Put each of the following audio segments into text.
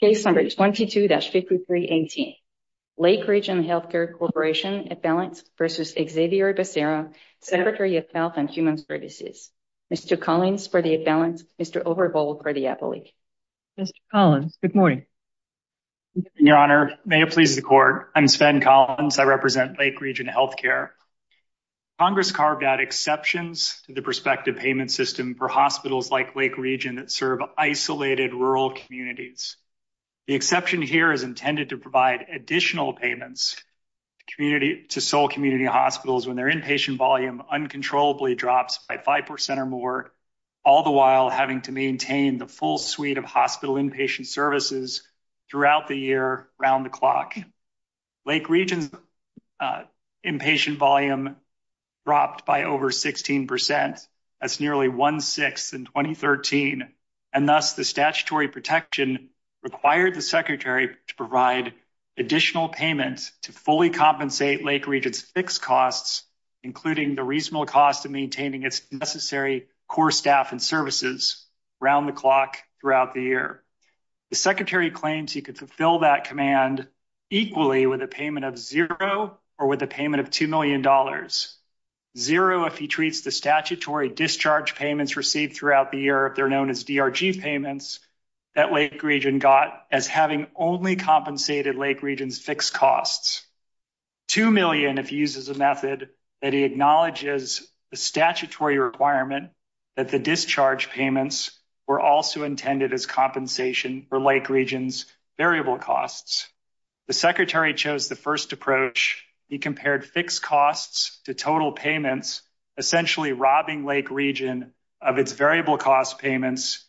Case number 22-5318, Lake Region Healthcare Corporation, Affiliates versus Xavier Becerra, Secretary of Health and Human Services. Mr. Collins for the Affiliates, Mr. Overbold for the Affiliates. Mr. Collins, good morning. Your Honor, may it please the Court, I'm Sven Collins, I represent Lake Region Healthcare. Congress carved out exceptions to the prospective payment system for hospitals like Lake Region that serve isolated rural communities. The exception here is intended to provide additional payments to sole community hospitals when their inpatient volume uncontrollably drops by 5% or more, all the while having to maintain the full suite of hospital inpatient services throughout the year around the clock. Lake Region's inpatient volume dropped by over 16%. That's nearly one-sixth in 2013, and thus the statutory protection required the Secretary to provide additional payments to fully compensate Lake Region's fixed costs, including the reasonable cost of maintaining its necessary core staff and services around the clock throughout the year. The Secretary claims he could fulfill that command equally with a payment of zero or with a payment of $2 million. Zero if he treats the statutory discharge payments received throughout the year, if they're known as DRG payments, that Lake Region got as having only compensated Lake Region's fixed costs. Two million if he uses a method that he acknowledges the statutory requirement that the discharge payments were also intended as compensation for Lake Region's total payments, essentially robbing Lake Region of its variable cost payments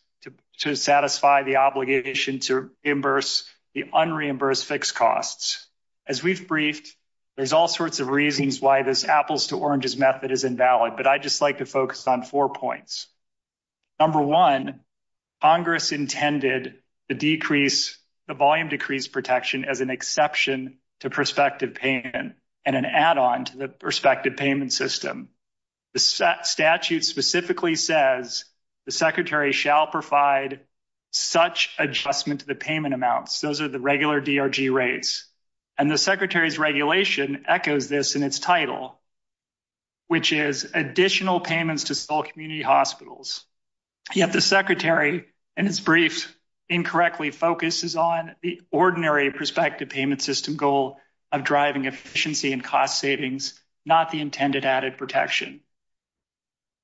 to satisfy the obligation to reimburse the unreimbursed fixed costs. As we've briefed, there's all sorts of reasons why this apples-to-oranges method is invalid, but I'd just like to focus on four points. Number one, Congress intended the volume decrease protection as an exception to prospective payment and an add-on to the prospective payment system. The statute specifically says the Secretary shall provide such adjustment to the payment amounts. Those are the regular DRG rates, and the Secretary's regulation echoes this in its title, which is additional payments to sole community hospitals. Yet the Secretary, in his brief, incorrectly focuses on the ordinary prospective payment system goal of driving efficiency and cost savings, not the intended added protection.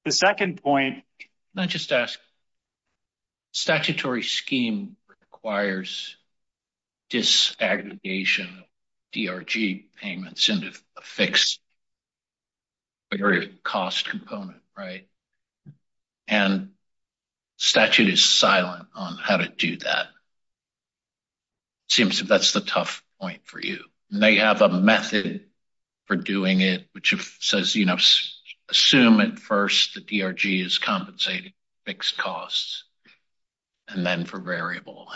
The second point... Can I just ask, statutory scheme requires disaggregation DRG payments into a fixed cost component, right? And statute is silent on how to do that. It seems that's the tough point for you. They have a method for doing it, which says, you know, assume at first the DRG is compensating fixed costs and then for variable.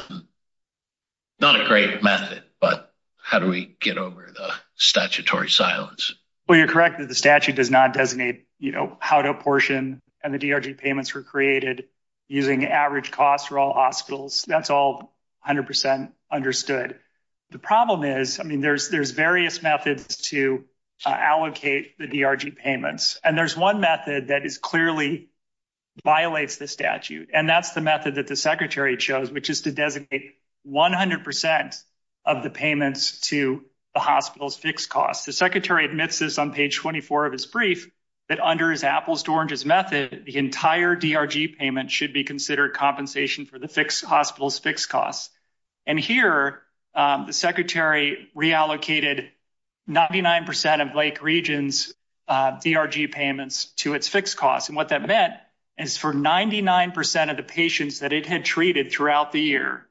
Not a great method, but how do we get over the statutory silence? Well, you're correct that the statute does not designate, you know, how to apportion and the DRG payments were created using average costs for all hospitals. That's all 100% understood. The problem is, I mean, there's various methods to allocate the DRG payments, and there's one method that is clearly violates the statute, and that's the method that the Secretary chose, which is to designate 100% of the payments to the hospital's fixed costs. The Secretary admits this on page 24 of his brief that under his apples-to-oranges method, the entire DRG payment should be considered compensation for the hospital's fixed costs. And here, the Secretary reallocated 99% of Lake Region's DRG payments to its fixed costs. And what that meant is for 99% of the patients that it had treated throughout the year,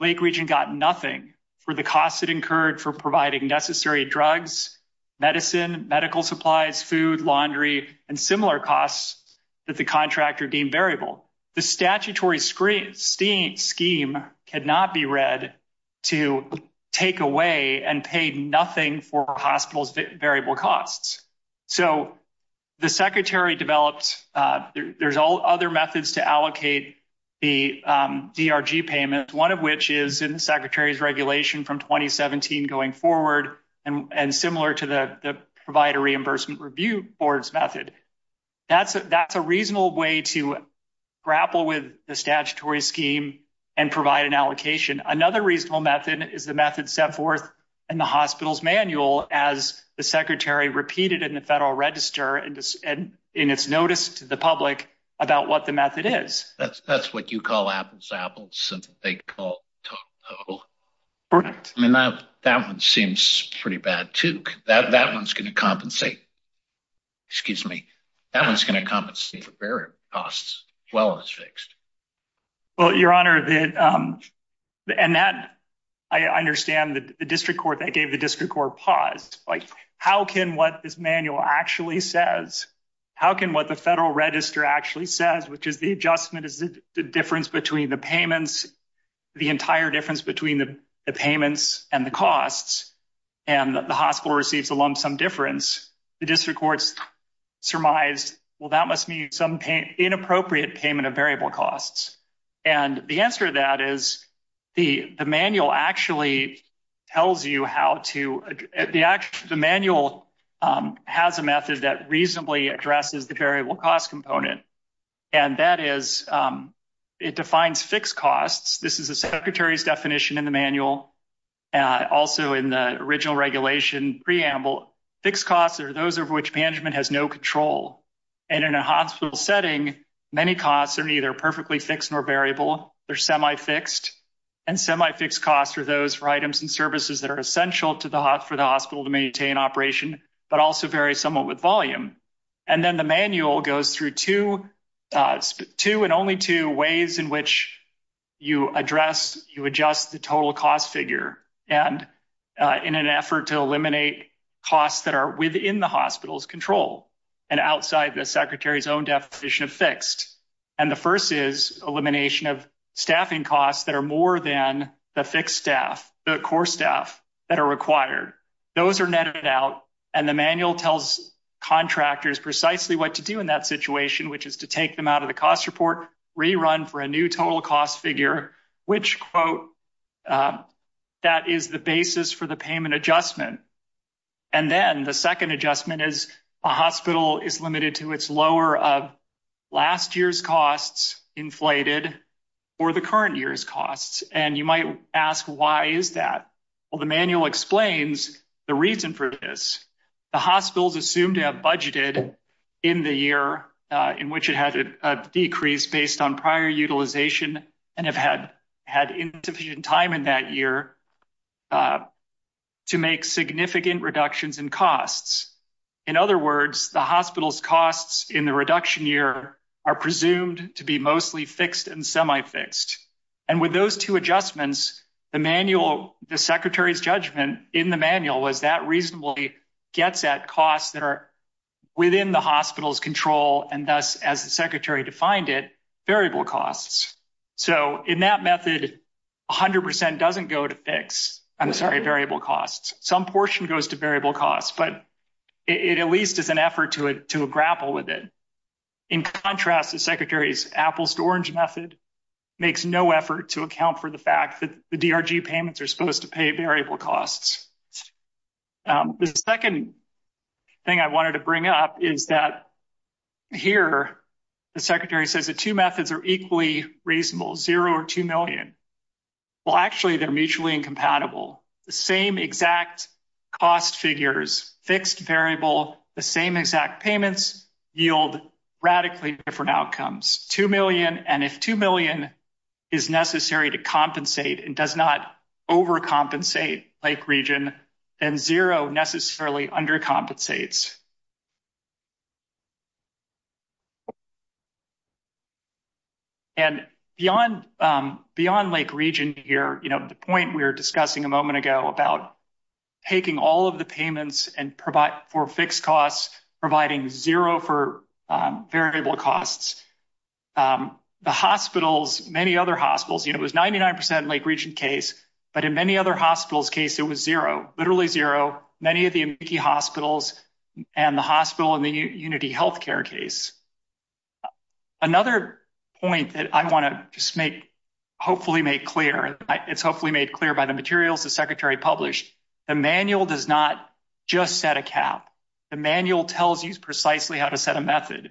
Lake Region got nothing for the costs it incurred for providing necessary drugs, medicine, medical supplies, food, laundry, and similar costs that the contractor deemed variable. The statutory scheme cannot be read to take away and pay nothing for hospital's variable costs. So, the Secretary developed, there's all other methods to allocate the DRG payment, one of which is in the Secretary's regulation from 2017 going forward, and similar to the Provider Reimbursement Review Board's method. That's a reasonable way to grapple with the statutory scheme and provide an allocation. Another reasonable method is the method set forth in the hospital's manual as the Secretary repeated in the Federal Register and in its notice to the public about what the method is. That's what you call apples-to-apples, something they call TOCO. Correct. I mean, that one seems pretty bad, too. That one's going to compensate, excuse me, that one's going to compensate for variable costs as well as fixed. Well, Your Honor, and that, I understand the District Court, that gave the District Court pause. Like, how can what this manual actually says, how can what the Federal Register actually says, which is the adjustment is the difference between the payments, the entire difference between the payments and the costs, and the hospital receives along some difference, the District Court surmised, well, that must mean some inappropriate payment of variable costs. And the answer to that is the manual actually tells you how to, the manual has a method that reasonably addresses the variable cost component, and that is it defines fixed costs. This is the Secretary's definition in the manual, also in the original regulation preamble. Fixed costs are those of which management has no control, and in a hospital setting, many costs are neither perfectly fixed nor variable, they're semi-fixed, and semi-fixed costs are those for items and services that are essential for the hospital to maintain operation, but also vary somewhat with volume. And then the manual goes through two, two and only two ways in which you address, you adjust the total cost figure, and in an effort to eliminate costs that are within the hospital's And the first is elimination of staffing costs that are more than the fixed staff, the core staff that are required. Those are netted out, and the manual tells contractors precisely what to do in that situation, which is to take them out of the cost report, rerun for a new total cost figure, which, quote, that is the basis for the payment adjustment. And then the second adjustment is a hospital is limited to its lower of last year's costs inflated or the current year's costs, and you might ask why is that? Well, the manual explains the reason for this. The hospitals assumed to have budgeted in the year in which it had a decrease based on prior utilization and have had insufficient time in that year to make significant reductions in costs. In other words, the hospital's costs in the reduction year are presumed to be mostly fixed and semi-fixed. And with those two adjustments, the manual, the secretary's judgment in the manual was that reasonably gets at costs that are within the hospital's control, and thus, as the secretary defined it, variable costs. So in that method, 100% doesn't go to variable costs. Some portion goes to variable costs, but it at least is an effort to grapple with it. In contrast, the secretary's apple-to-orange method makes no effort to account for the fact that the DRG payments are supposed to pay variable costs. The second thing I wanted to bring up is that here the secretary says that two methods are well, actually, they're mutually incompatible. The same exact cost figures, fixed variable, the same exact payments yield radically different outcomes. Two million, and if two million is necessary to compensate and does not overcompensate Lake Region, then zero here. The point we were discussing a moment ago about taking all of the payments for fixed costs, providing zero for variable costs, the hospitals, many other hospitals, it was 99% Lake Region case, but in many other hospitals' case, it was zero, literally zero. Many of the Amici hospitals and the hospital in the Unity Healthcare case. Another point that I want to just make, hopefully make clear, it's hopefully made clear by the materials the secretary published, the manual does not just set a cap. The manual tells you precisely how to set a method.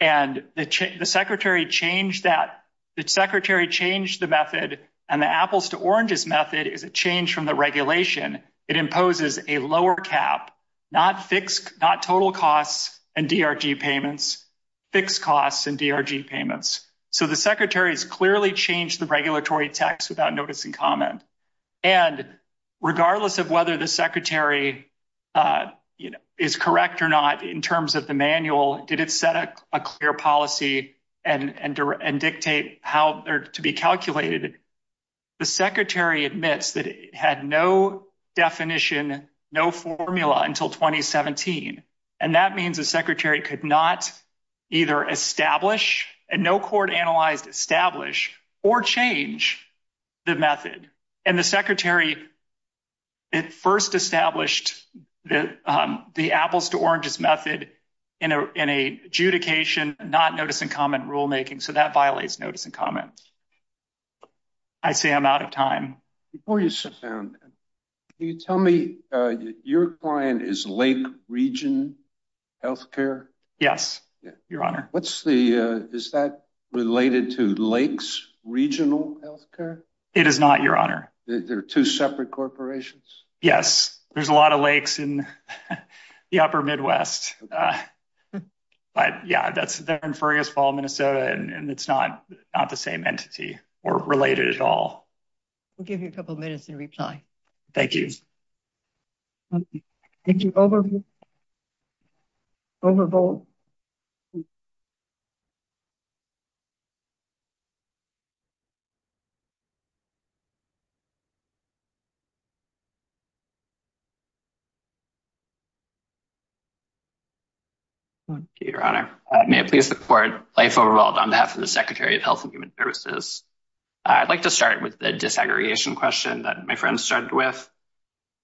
And the secretary changed that, the secretary changed the method, and the apples-to-oranges method is a change from the regulation. It imposes a lower cap, not fixed, not total costs and DRG payments, fixed costs and DRG payments. So the secretary has clearly changed the regulatory tax without notice and comment. And regardless of whether the secretary is correct or not in terms of the manual, did it set a clear policy and dictate how they're to be calculated, the secretary admits that it had no definition, no formula until 2017. And that means the secretary could not either establish, and no court analyzed, establish or change the method. And the secretary first established the apples-to-oranges method in adjudication, not notice and comment rulemaking, so that violates notice and comment. I see I'm out of time. Before you sit down, can you tell me, your client is Lake Region Healthcare? Yes, your honor. What's the, is that related to Lakes Regional Healthcare? It is not, your honor. They're two separate corporations? Yes, there's a lot of lakes in the upper Midwest. But yeah, that's there in Fergus Fall, and it's not the same entity or related at all. We'll give you a couple minutes to reply. Thank you. Thank you. I'd like to start with the disaggregation question that my friend started with.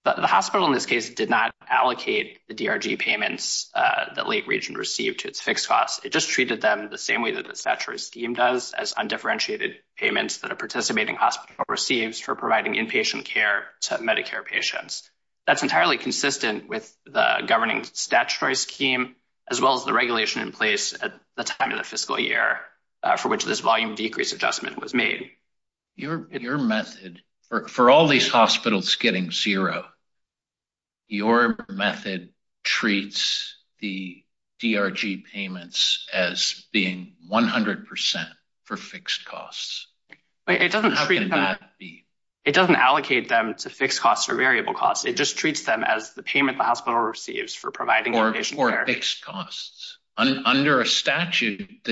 The hospital, in this case, did not allocate the DRG payments that Lake Region received to its fixed costs. It just treated them the same way that the statutory scheme does, as undifferentiated payments that a participating hospital receives for providing inpatient care to Medicare patients. That's entirely consistent with the governing statutory scheme, as well as the regulation in place at the time of the fiscal year for which this volume decrease adjustment was zero. Your method treats the DRG payments as being 100% for fixed costs. It doesn't allocate them to fixed costs or variable costs. It just treats them as the payment the hospital receives for providing inpatient care. The statute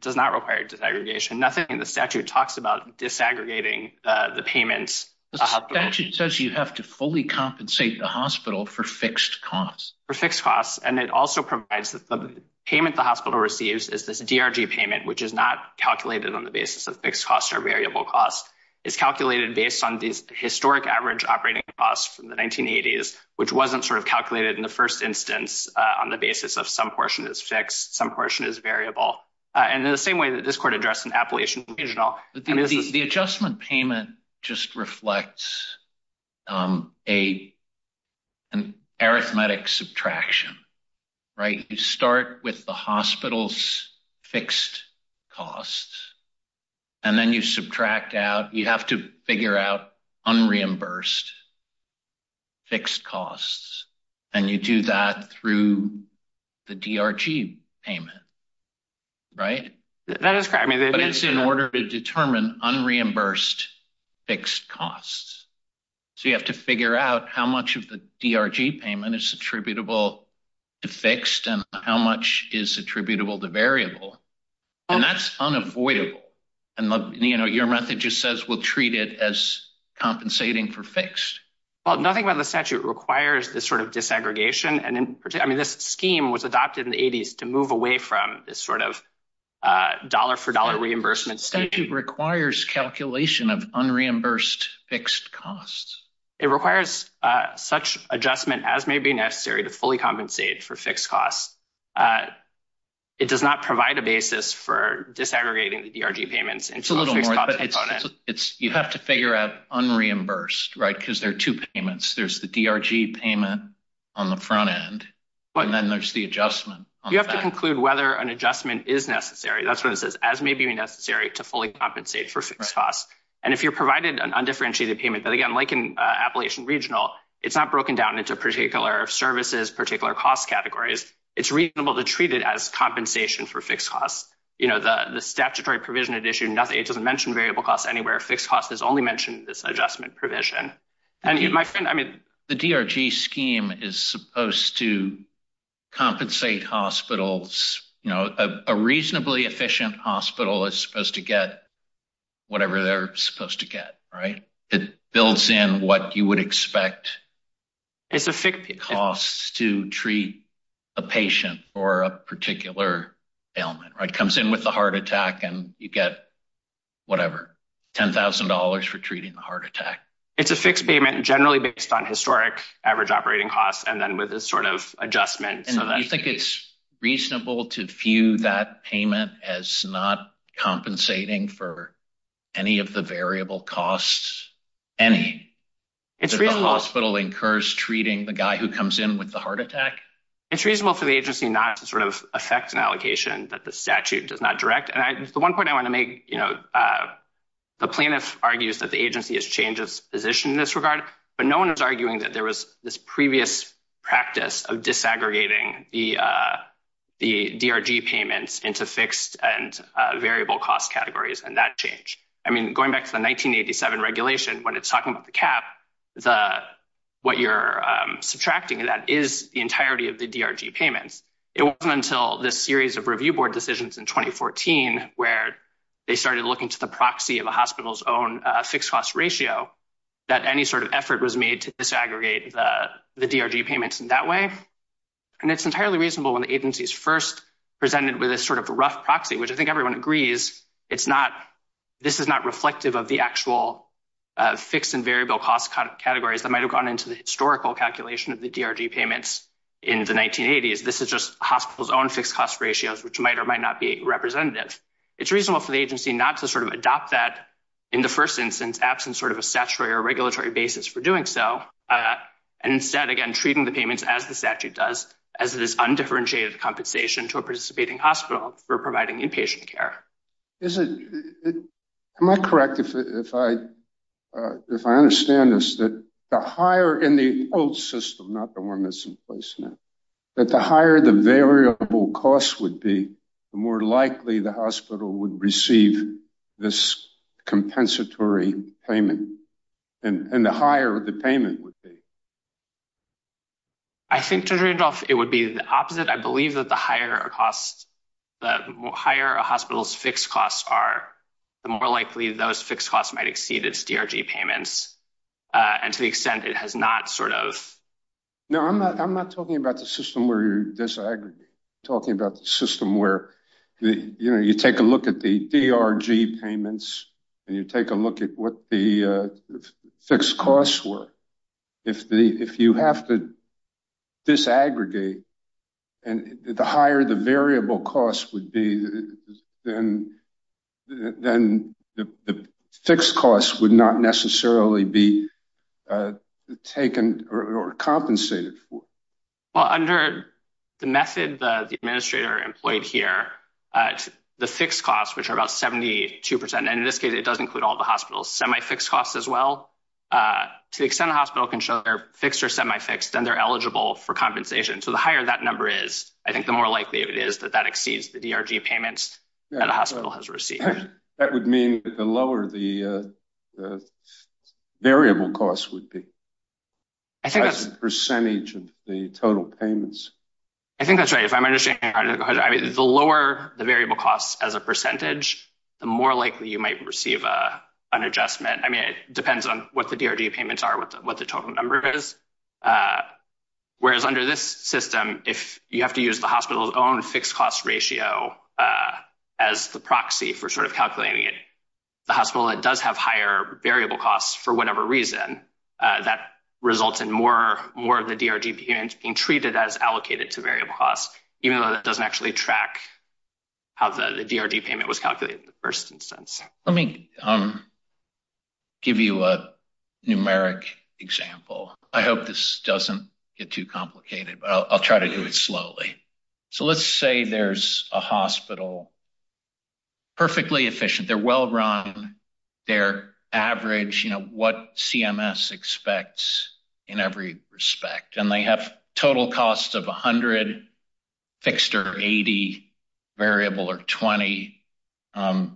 does not require disaggregation. Nothing in the statute talks about disaggregating the payments. The statute says you have to fully compensate the hospital for fixed costs. For fixed costs, and it also provides that the payment the hospital receives is this DRG payment, which is not calculated on the basis of fixed costs or variable costs. It's calculated based on these historic average operating costs from the 1980s, which wasn't sort of calculated in the first instance on the basis of some portion is fixed, some portion is variable. In the same way that this court addressed in Appalachian Regional. The adjustment payment just reflects an arithmetic subtraction. You start with the hospital's fixed costs, and then you subtract out. You have to figure out unreimbursed fixed costs, and you do that through the DRG payment. It's in order to determine unreimbursed fixed costs. You have to figure out how much of the DRG payment is attributable to fixed and how much is attributable to variable. That's unavoidable. Your method just says we'll treat it as compensating for fixed. Well, nothing about the statute requires this sort of disaggregation, and in particular, I mean, this scheme was adopted in the 80s to move away from this sort of dollar for dollar reimbursement. Statute requires calculation of unreimbursed fixed costs. It requires such adjustment as may be necessary to fully compensate for fixed costs. It does not provide a basis for disaggregating the DRG payments. It's a little more, but you have to figure out unreimbursed, right, because there are two payments. There's the DRG payment on the front end, and then there's the adjustment. You have to conclude whether an adjustment is necessary. That's what it says, as may be necessary to fully compensate for fixed costs. And if you're provided an undifferentiated payment, but again, like in Appalachian Regional, it's not broken down into particular services, particular cost categories. It's reasonable to treat it as compensation for fixed costs. You know, the statutory provision it issued, it doesn't mention variable costs anywhere. Fixed costs is only mentioned in this adjustment provision. The DRG scheme is supposed to compensate hospitals, you know, a reasonably efficient hospital is supposed to get whatever they're supposed to get, right? It builds in what you would expect costs to treat a patient for a particular ailment, right? It comes in with the heart attack and you get whatever, $10,000 for treating the heart attack. It's a fixed payment generally based on historic average operating costs, and then with this sort of adjustment. And you think it's reasonable to view that payment as not compensating for any of the variable costs, any? It's reasonable. The hospital incurs treating the guy who comes in with the heart attack? It's reasonable for the agency not to sort of affect an allocation that the statute does not direct. And the one point I want to make, you know, the plaintiff argues that the agency has changed its position in this regard, but no one was arguing that there was this previous practice of disaggregating the DRG payments into fixed and variable cost categories and that I mean, going back to the 1987 regulation, when it's talking about the cap, what you're subtracting that is the entirety of the DRG payments. It wasn't until this series of review board decisions in 2014, where they started looking to the proxy of a hospital's own fixed cost ratio, that any sort of effort was made to disaggregate the DRG payments in that way. And it's entirely reasonable when the agency's first presented with a sort of rough proxy, which I think everyone agrees, it's not, this is not reflective of the actual fixed and variable cost categories that might have gone into the historical calculation of the DRG payments in the 1980s. This is just hospitals own fixed cost ratios, which might or might not be representative. It's reasonable for the agency not to sort of adopt that in the first instance, absent sort of a statutory or regulatory basis for doing so. And instead, again, treating the payments as the statute does, as it is undifferentiated compensation to a participating hospital for providing inpatient care. Is it, am I correct if I, if I understand this, that the higher in the old system, not the one that's in place now, that the higher the variable cost would be, the more likely the hospital would receive this compensatory payment. And the higher the payment would be. I think to Rudolph, it would be the opposite. I believe that the higher costs, the higher a hospital's fixed costs are, the more likely those fixed costs might exceed its DRG payments. And to the extent it has not sort of. No, I'm not, I'm not talking about the system where you disaggregate, talking about the system where you take a look at the DRG payments and you take a look at what the costs were. If the, if you have to disaggregate and the higher the variable costs would be, then the fixed costs would not necessarily be taken or compensated for. Well, under the method, the administrator employed here, the fixed costs, which are about 72%. And in this case, it does include all the hospitals, semi-fixed costs as well. To the extent the hospital can show their fixed or semi-fixed, then they're eligible for compensation. So the higher that number is, I think the more likely it is that that exceeds the DRG payments that a hospital has received. That would mean that the lower the variable costs would be. I think that's the percentage of the total payments. I think that's right. If I'm understanding, I mean, the lower the variable costs as a percentage, the more likely you might receive an adjustment. I mean, it depends on what the DRG payments are, what the total number is. Whereas under this system, if you have to use the hospital's own fixed cost ratio as the proxy for sort of calculating it, the hospital that does have higher variable costs for whatever reason, that results in more of the DRG payments being treated as allocated to variable costs, even though that doesn't actually track how the DRG payment was in the first instance. Let me give you a numeric example. I hope this doesn't get too complicated, but I'll try to do it slowly. So let's say there's a hospital, perfectly efficient, they're well run, they're average, you know, what CMS expects in every respect. And they have total costs of 100 fixed or 80 variable or 20.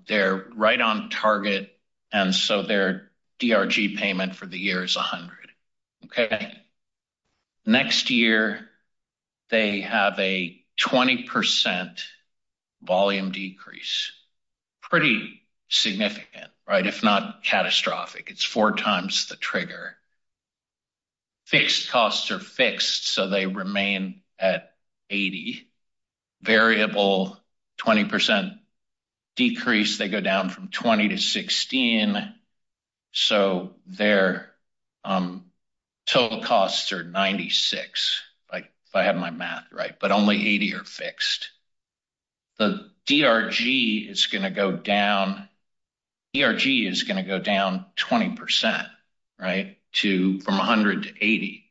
They're right on target. And so their DRG payment for the year is 100. Okay. Next year, they have a 20% volume decrease. Pretty significant, right? If not catastrophic, it's four times the trigger. Fixed costs are fixed, so they remain at 80. Variable 20% decrease, they go down from 20 to 16. So their total costs are 96, if I have my math right, but only 80 are fixed. The DRG is going to go down 20%, right, from 100 to 80.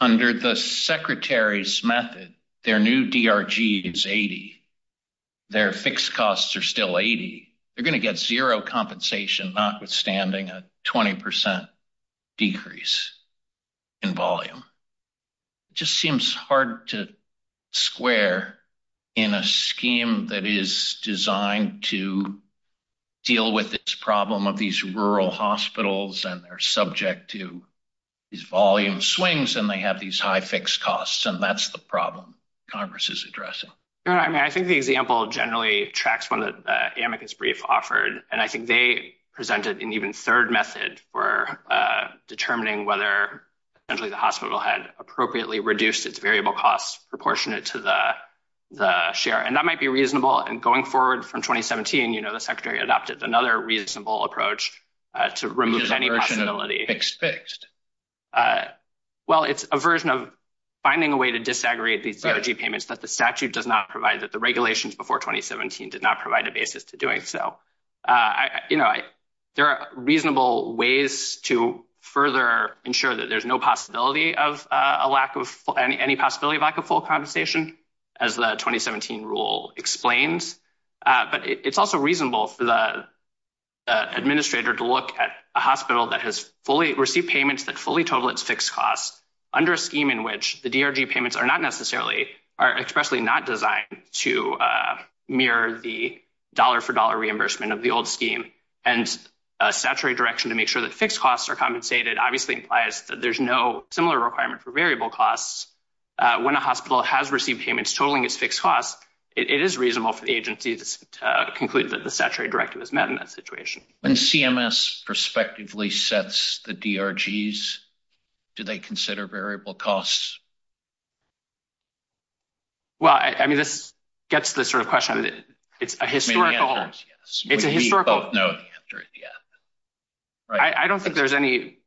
Under the Secretary's method, their new DRG is 80. Their fixed costs are still 80. They're going to get zero compensation, notwithstanding a 20% decrease in volume. It just seems hard to square in a scheme that is designed to deal with this problem of these rural hospitals, and they're subject to these volume swings, and they have these high fixed costs. And that's the problem Congress is addressing. I mean, I think the example generally tracks one of the amicus brief offered. And I think they presented an even third method for determining whether essentially the hospital had appropriately reduced its variable costs proportionate to the share. And that might be reasonable. And going forward from 2017, the Secretary adopted another reasonable approach to remove any possibility. Well, it's a version of finding a way to disaggregate these DRG payments that the statute does not provide, that the regulations before 2017 did not provide a basis to doing so. There are reasonable ways to further ensure that there's no possibility of any possibility of lack of full compensation, as the 2017 rule explains. But it's also reasonable for the administrator to look at a hospital that has received payments that fully total its fixed costs under a scheme in which the DRG payments are not necessarily, are expressly not designed to mirror the dollar-for-dollar reimbursement of the old scheme. And a statutory direction to make sure that fixed costs are compensated obviously implies that there's no similar requirement for variable costs. When a hospital has received payments totaling its fixed costs, it is reasonable for the agency to conclude that the statutory directive is met in that situation. When CMS prospectively sets the DRGs, do they consider variable costs? Well, I mean, this gets to the sort of question, it's a historical, it's a historical, I don't think there's any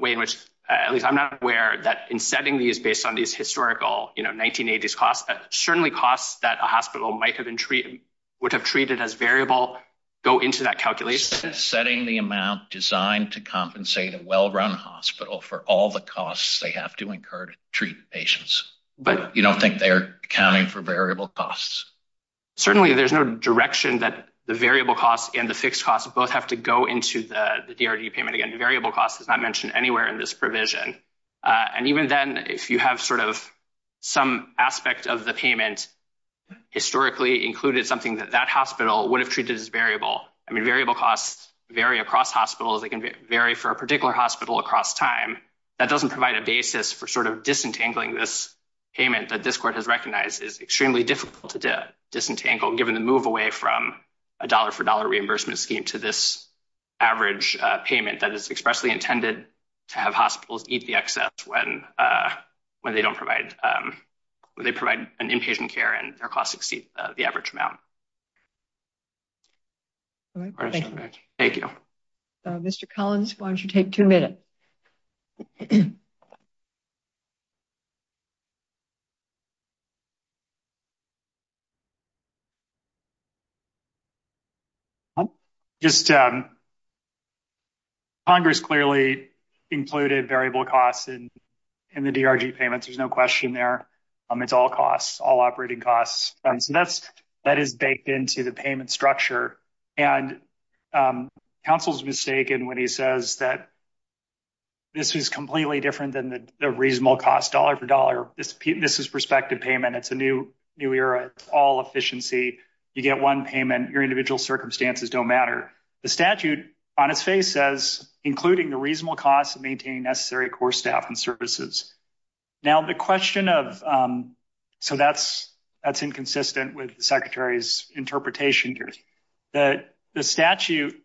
way in which, at least I'm not aware that in setting these based on these historical, you know, 1980s costs, certainly costs that a hospital might have been treated, would have treated as variable, go into that calculation. Setting the amount designed to compensate a well-run hospital for all the costs they have to incur to treat patients. But you don't think they're accounting for variable costs? Certainly, there's no direction that the variable costs and the fixed costs both have to go into the DRG payment. Again, variable costs is not mentioned anywhere in this provision. And even then, if you have sort of some aspect of the payment historically included something that that hospital would have treated as variable. I mean, variable costs vary across hospitals, they can vary for a particular hospital across time. That doesn't provide a basis for sort of disentangling this payment that this court has recognized is extremely difficult to disentangle given the move away from a dollar-for-dollar reimbursement scheme to this average payment that is expressly intended to have hospitals eat the excess when they don't provide, when they provide an inpatient care and their costs exceed the average amount. Thank you. Mr. Collins, why don't you take two minutes? Just, Congress clearly included variable costs in the DRG payments, there's no question there. It's all costs, all operating costs. And so that's, that is baked into the payment structure. And counsel's mistaken when he says that this is completely different than the reasonable cost this is dollar-for-dollar, this is prospective payment, it's a new era, it's all efficiency, you get one payment, your individual circumstances don't matter. The statute on its face says, including the reasonable cost of maintaining necessary core staff and services. Now the question of, so that's inconsistent with the Secretary's interpretation here. The statute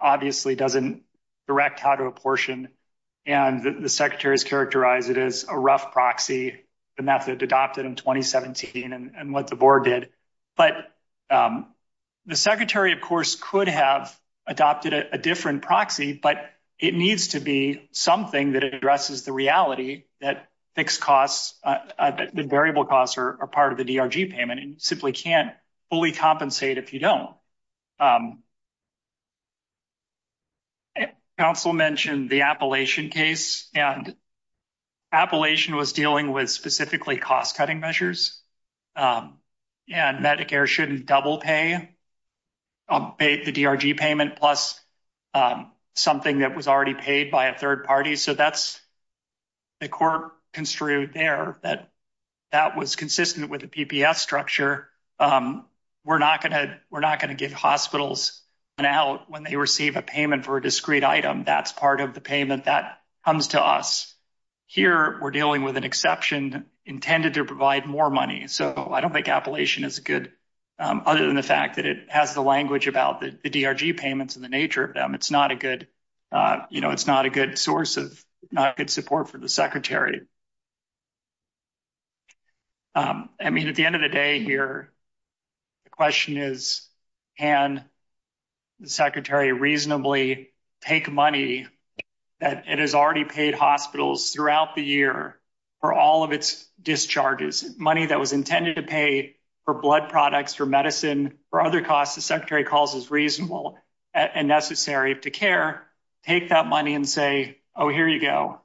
obviously doesn't direct how to apportion, and the Secretary has characterized it as a rough proxy, the method adopted in 2017 and what the board did. But the Secretary, of course, could have adopted a different proxy, but it needs to be something that addresses the reality that fixed costs, the variable costs are part of the DRG payment and simply can't fully compensate if you don't. Counsel mentioned the Appalachian case, and Appalachian was dealing with specifically cost-cutting measures, and Medicare shouldn't double pay the DRG payment, plus something that was already paid by a third party. So that's, the court construed there that was consistent with the PPS structure. We're not going to give hospitals an out when they receive a payment for a discrete item, that's part of the payment that comes to us. Here, we're dealing with an exception intended to provide more money, so I don't think Appalachian is good, other than the fact that it has the language about the DRG payments and the nature of them. It's not a good, you know, it's not a good source of, not good support for the Secretary. I mean, at the end of the day here, the question is, can the Secretary reasonably take money that it has already paid hospitals throughout the year for all of its discharges, money that was intended to pay for blood products, for medicine, for other costs the Secretary calls reasonable and necessary to care, take that money and say, oh, here you go,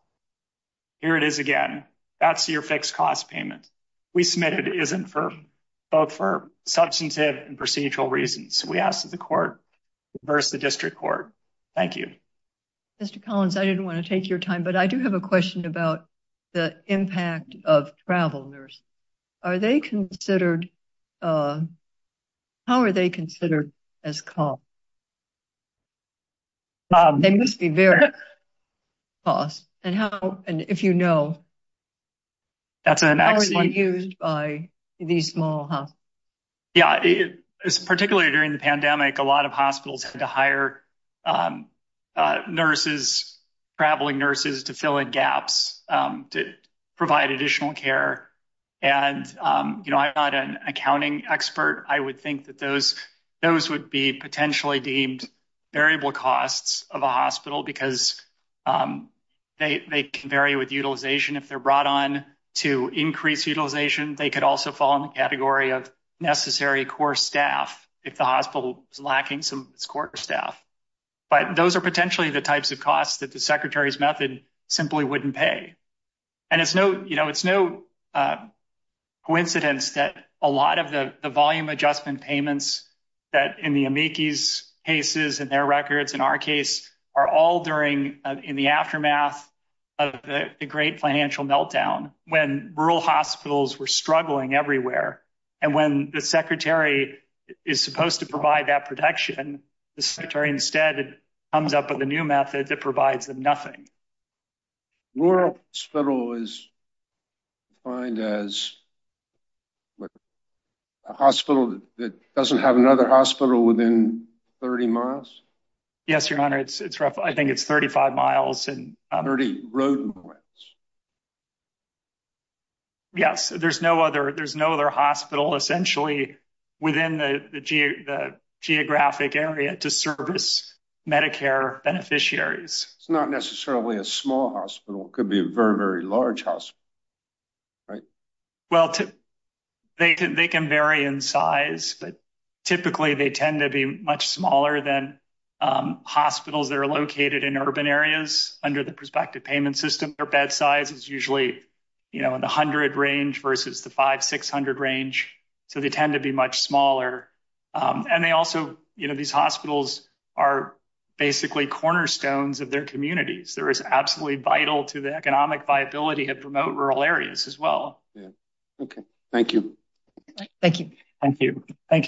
here it is again. That's your fixed cost payment. We submit it isn't for, both for substantive and procedural reasons. We ask that the court reverse the district court. Thank you. Mr. Collins, I didn't want to take your time, but I do have a question about the impact of travel nurse. Are they considered, how are they considered as costs? They must be very costs. And how, and if you know, how are they used by these small hospitals? Yeah, particularly during the pandemic, a lot of hospitals had to hire nurses, traveling nurses to fill in gaps, to provide additional care. And, you know, I'm not an accounting expert. I would think that those, those would be potentially deemed variable costs of a hospital because they can vary with utilization. If they're brought on to increase utilization, they could also fall in the category of necessary core staff if the hospital is lacking some of its core staff. But those are potentially the types of costs that secretary's method simply wouldn't pay. And it's no, you know, it's no coincidence that a lot of the volume adjustment payments that in the amici's cases and their records, in our case, are all during in the aftermath of the great financial meltdown when rural hospitals were struggling everywhere. And when the secretary is supposed to provide that protection, the secretary instead comes up with a new method that provides them nothing. Rural hospital is defined as a hospital that doesn't have another hospital within 30 miles? Yes, your honor. It's, it's rough. I think it's 35 miles and 30 road points. Yes, there's no other, there's no other hospital essentially within the geographic area to service Medicare beneficiaries. It's not necessarily a small hospital. It could be a very, very large hospital, right? Well, they can, they can vary in size, but typically they tend to be much smaller than hospitals that are located in urban areas under the prospective payment system. Their bed size is usually, you know, in the hundred range versus the five, 600 range. So they tend to be much smaller. And they also, you know, these hospitals are basically cornerstones of their communities. There is absolutely vital to the economic viability of remote rural areas as well. Okay. Thank you. Thank you. Thank you. Thank you.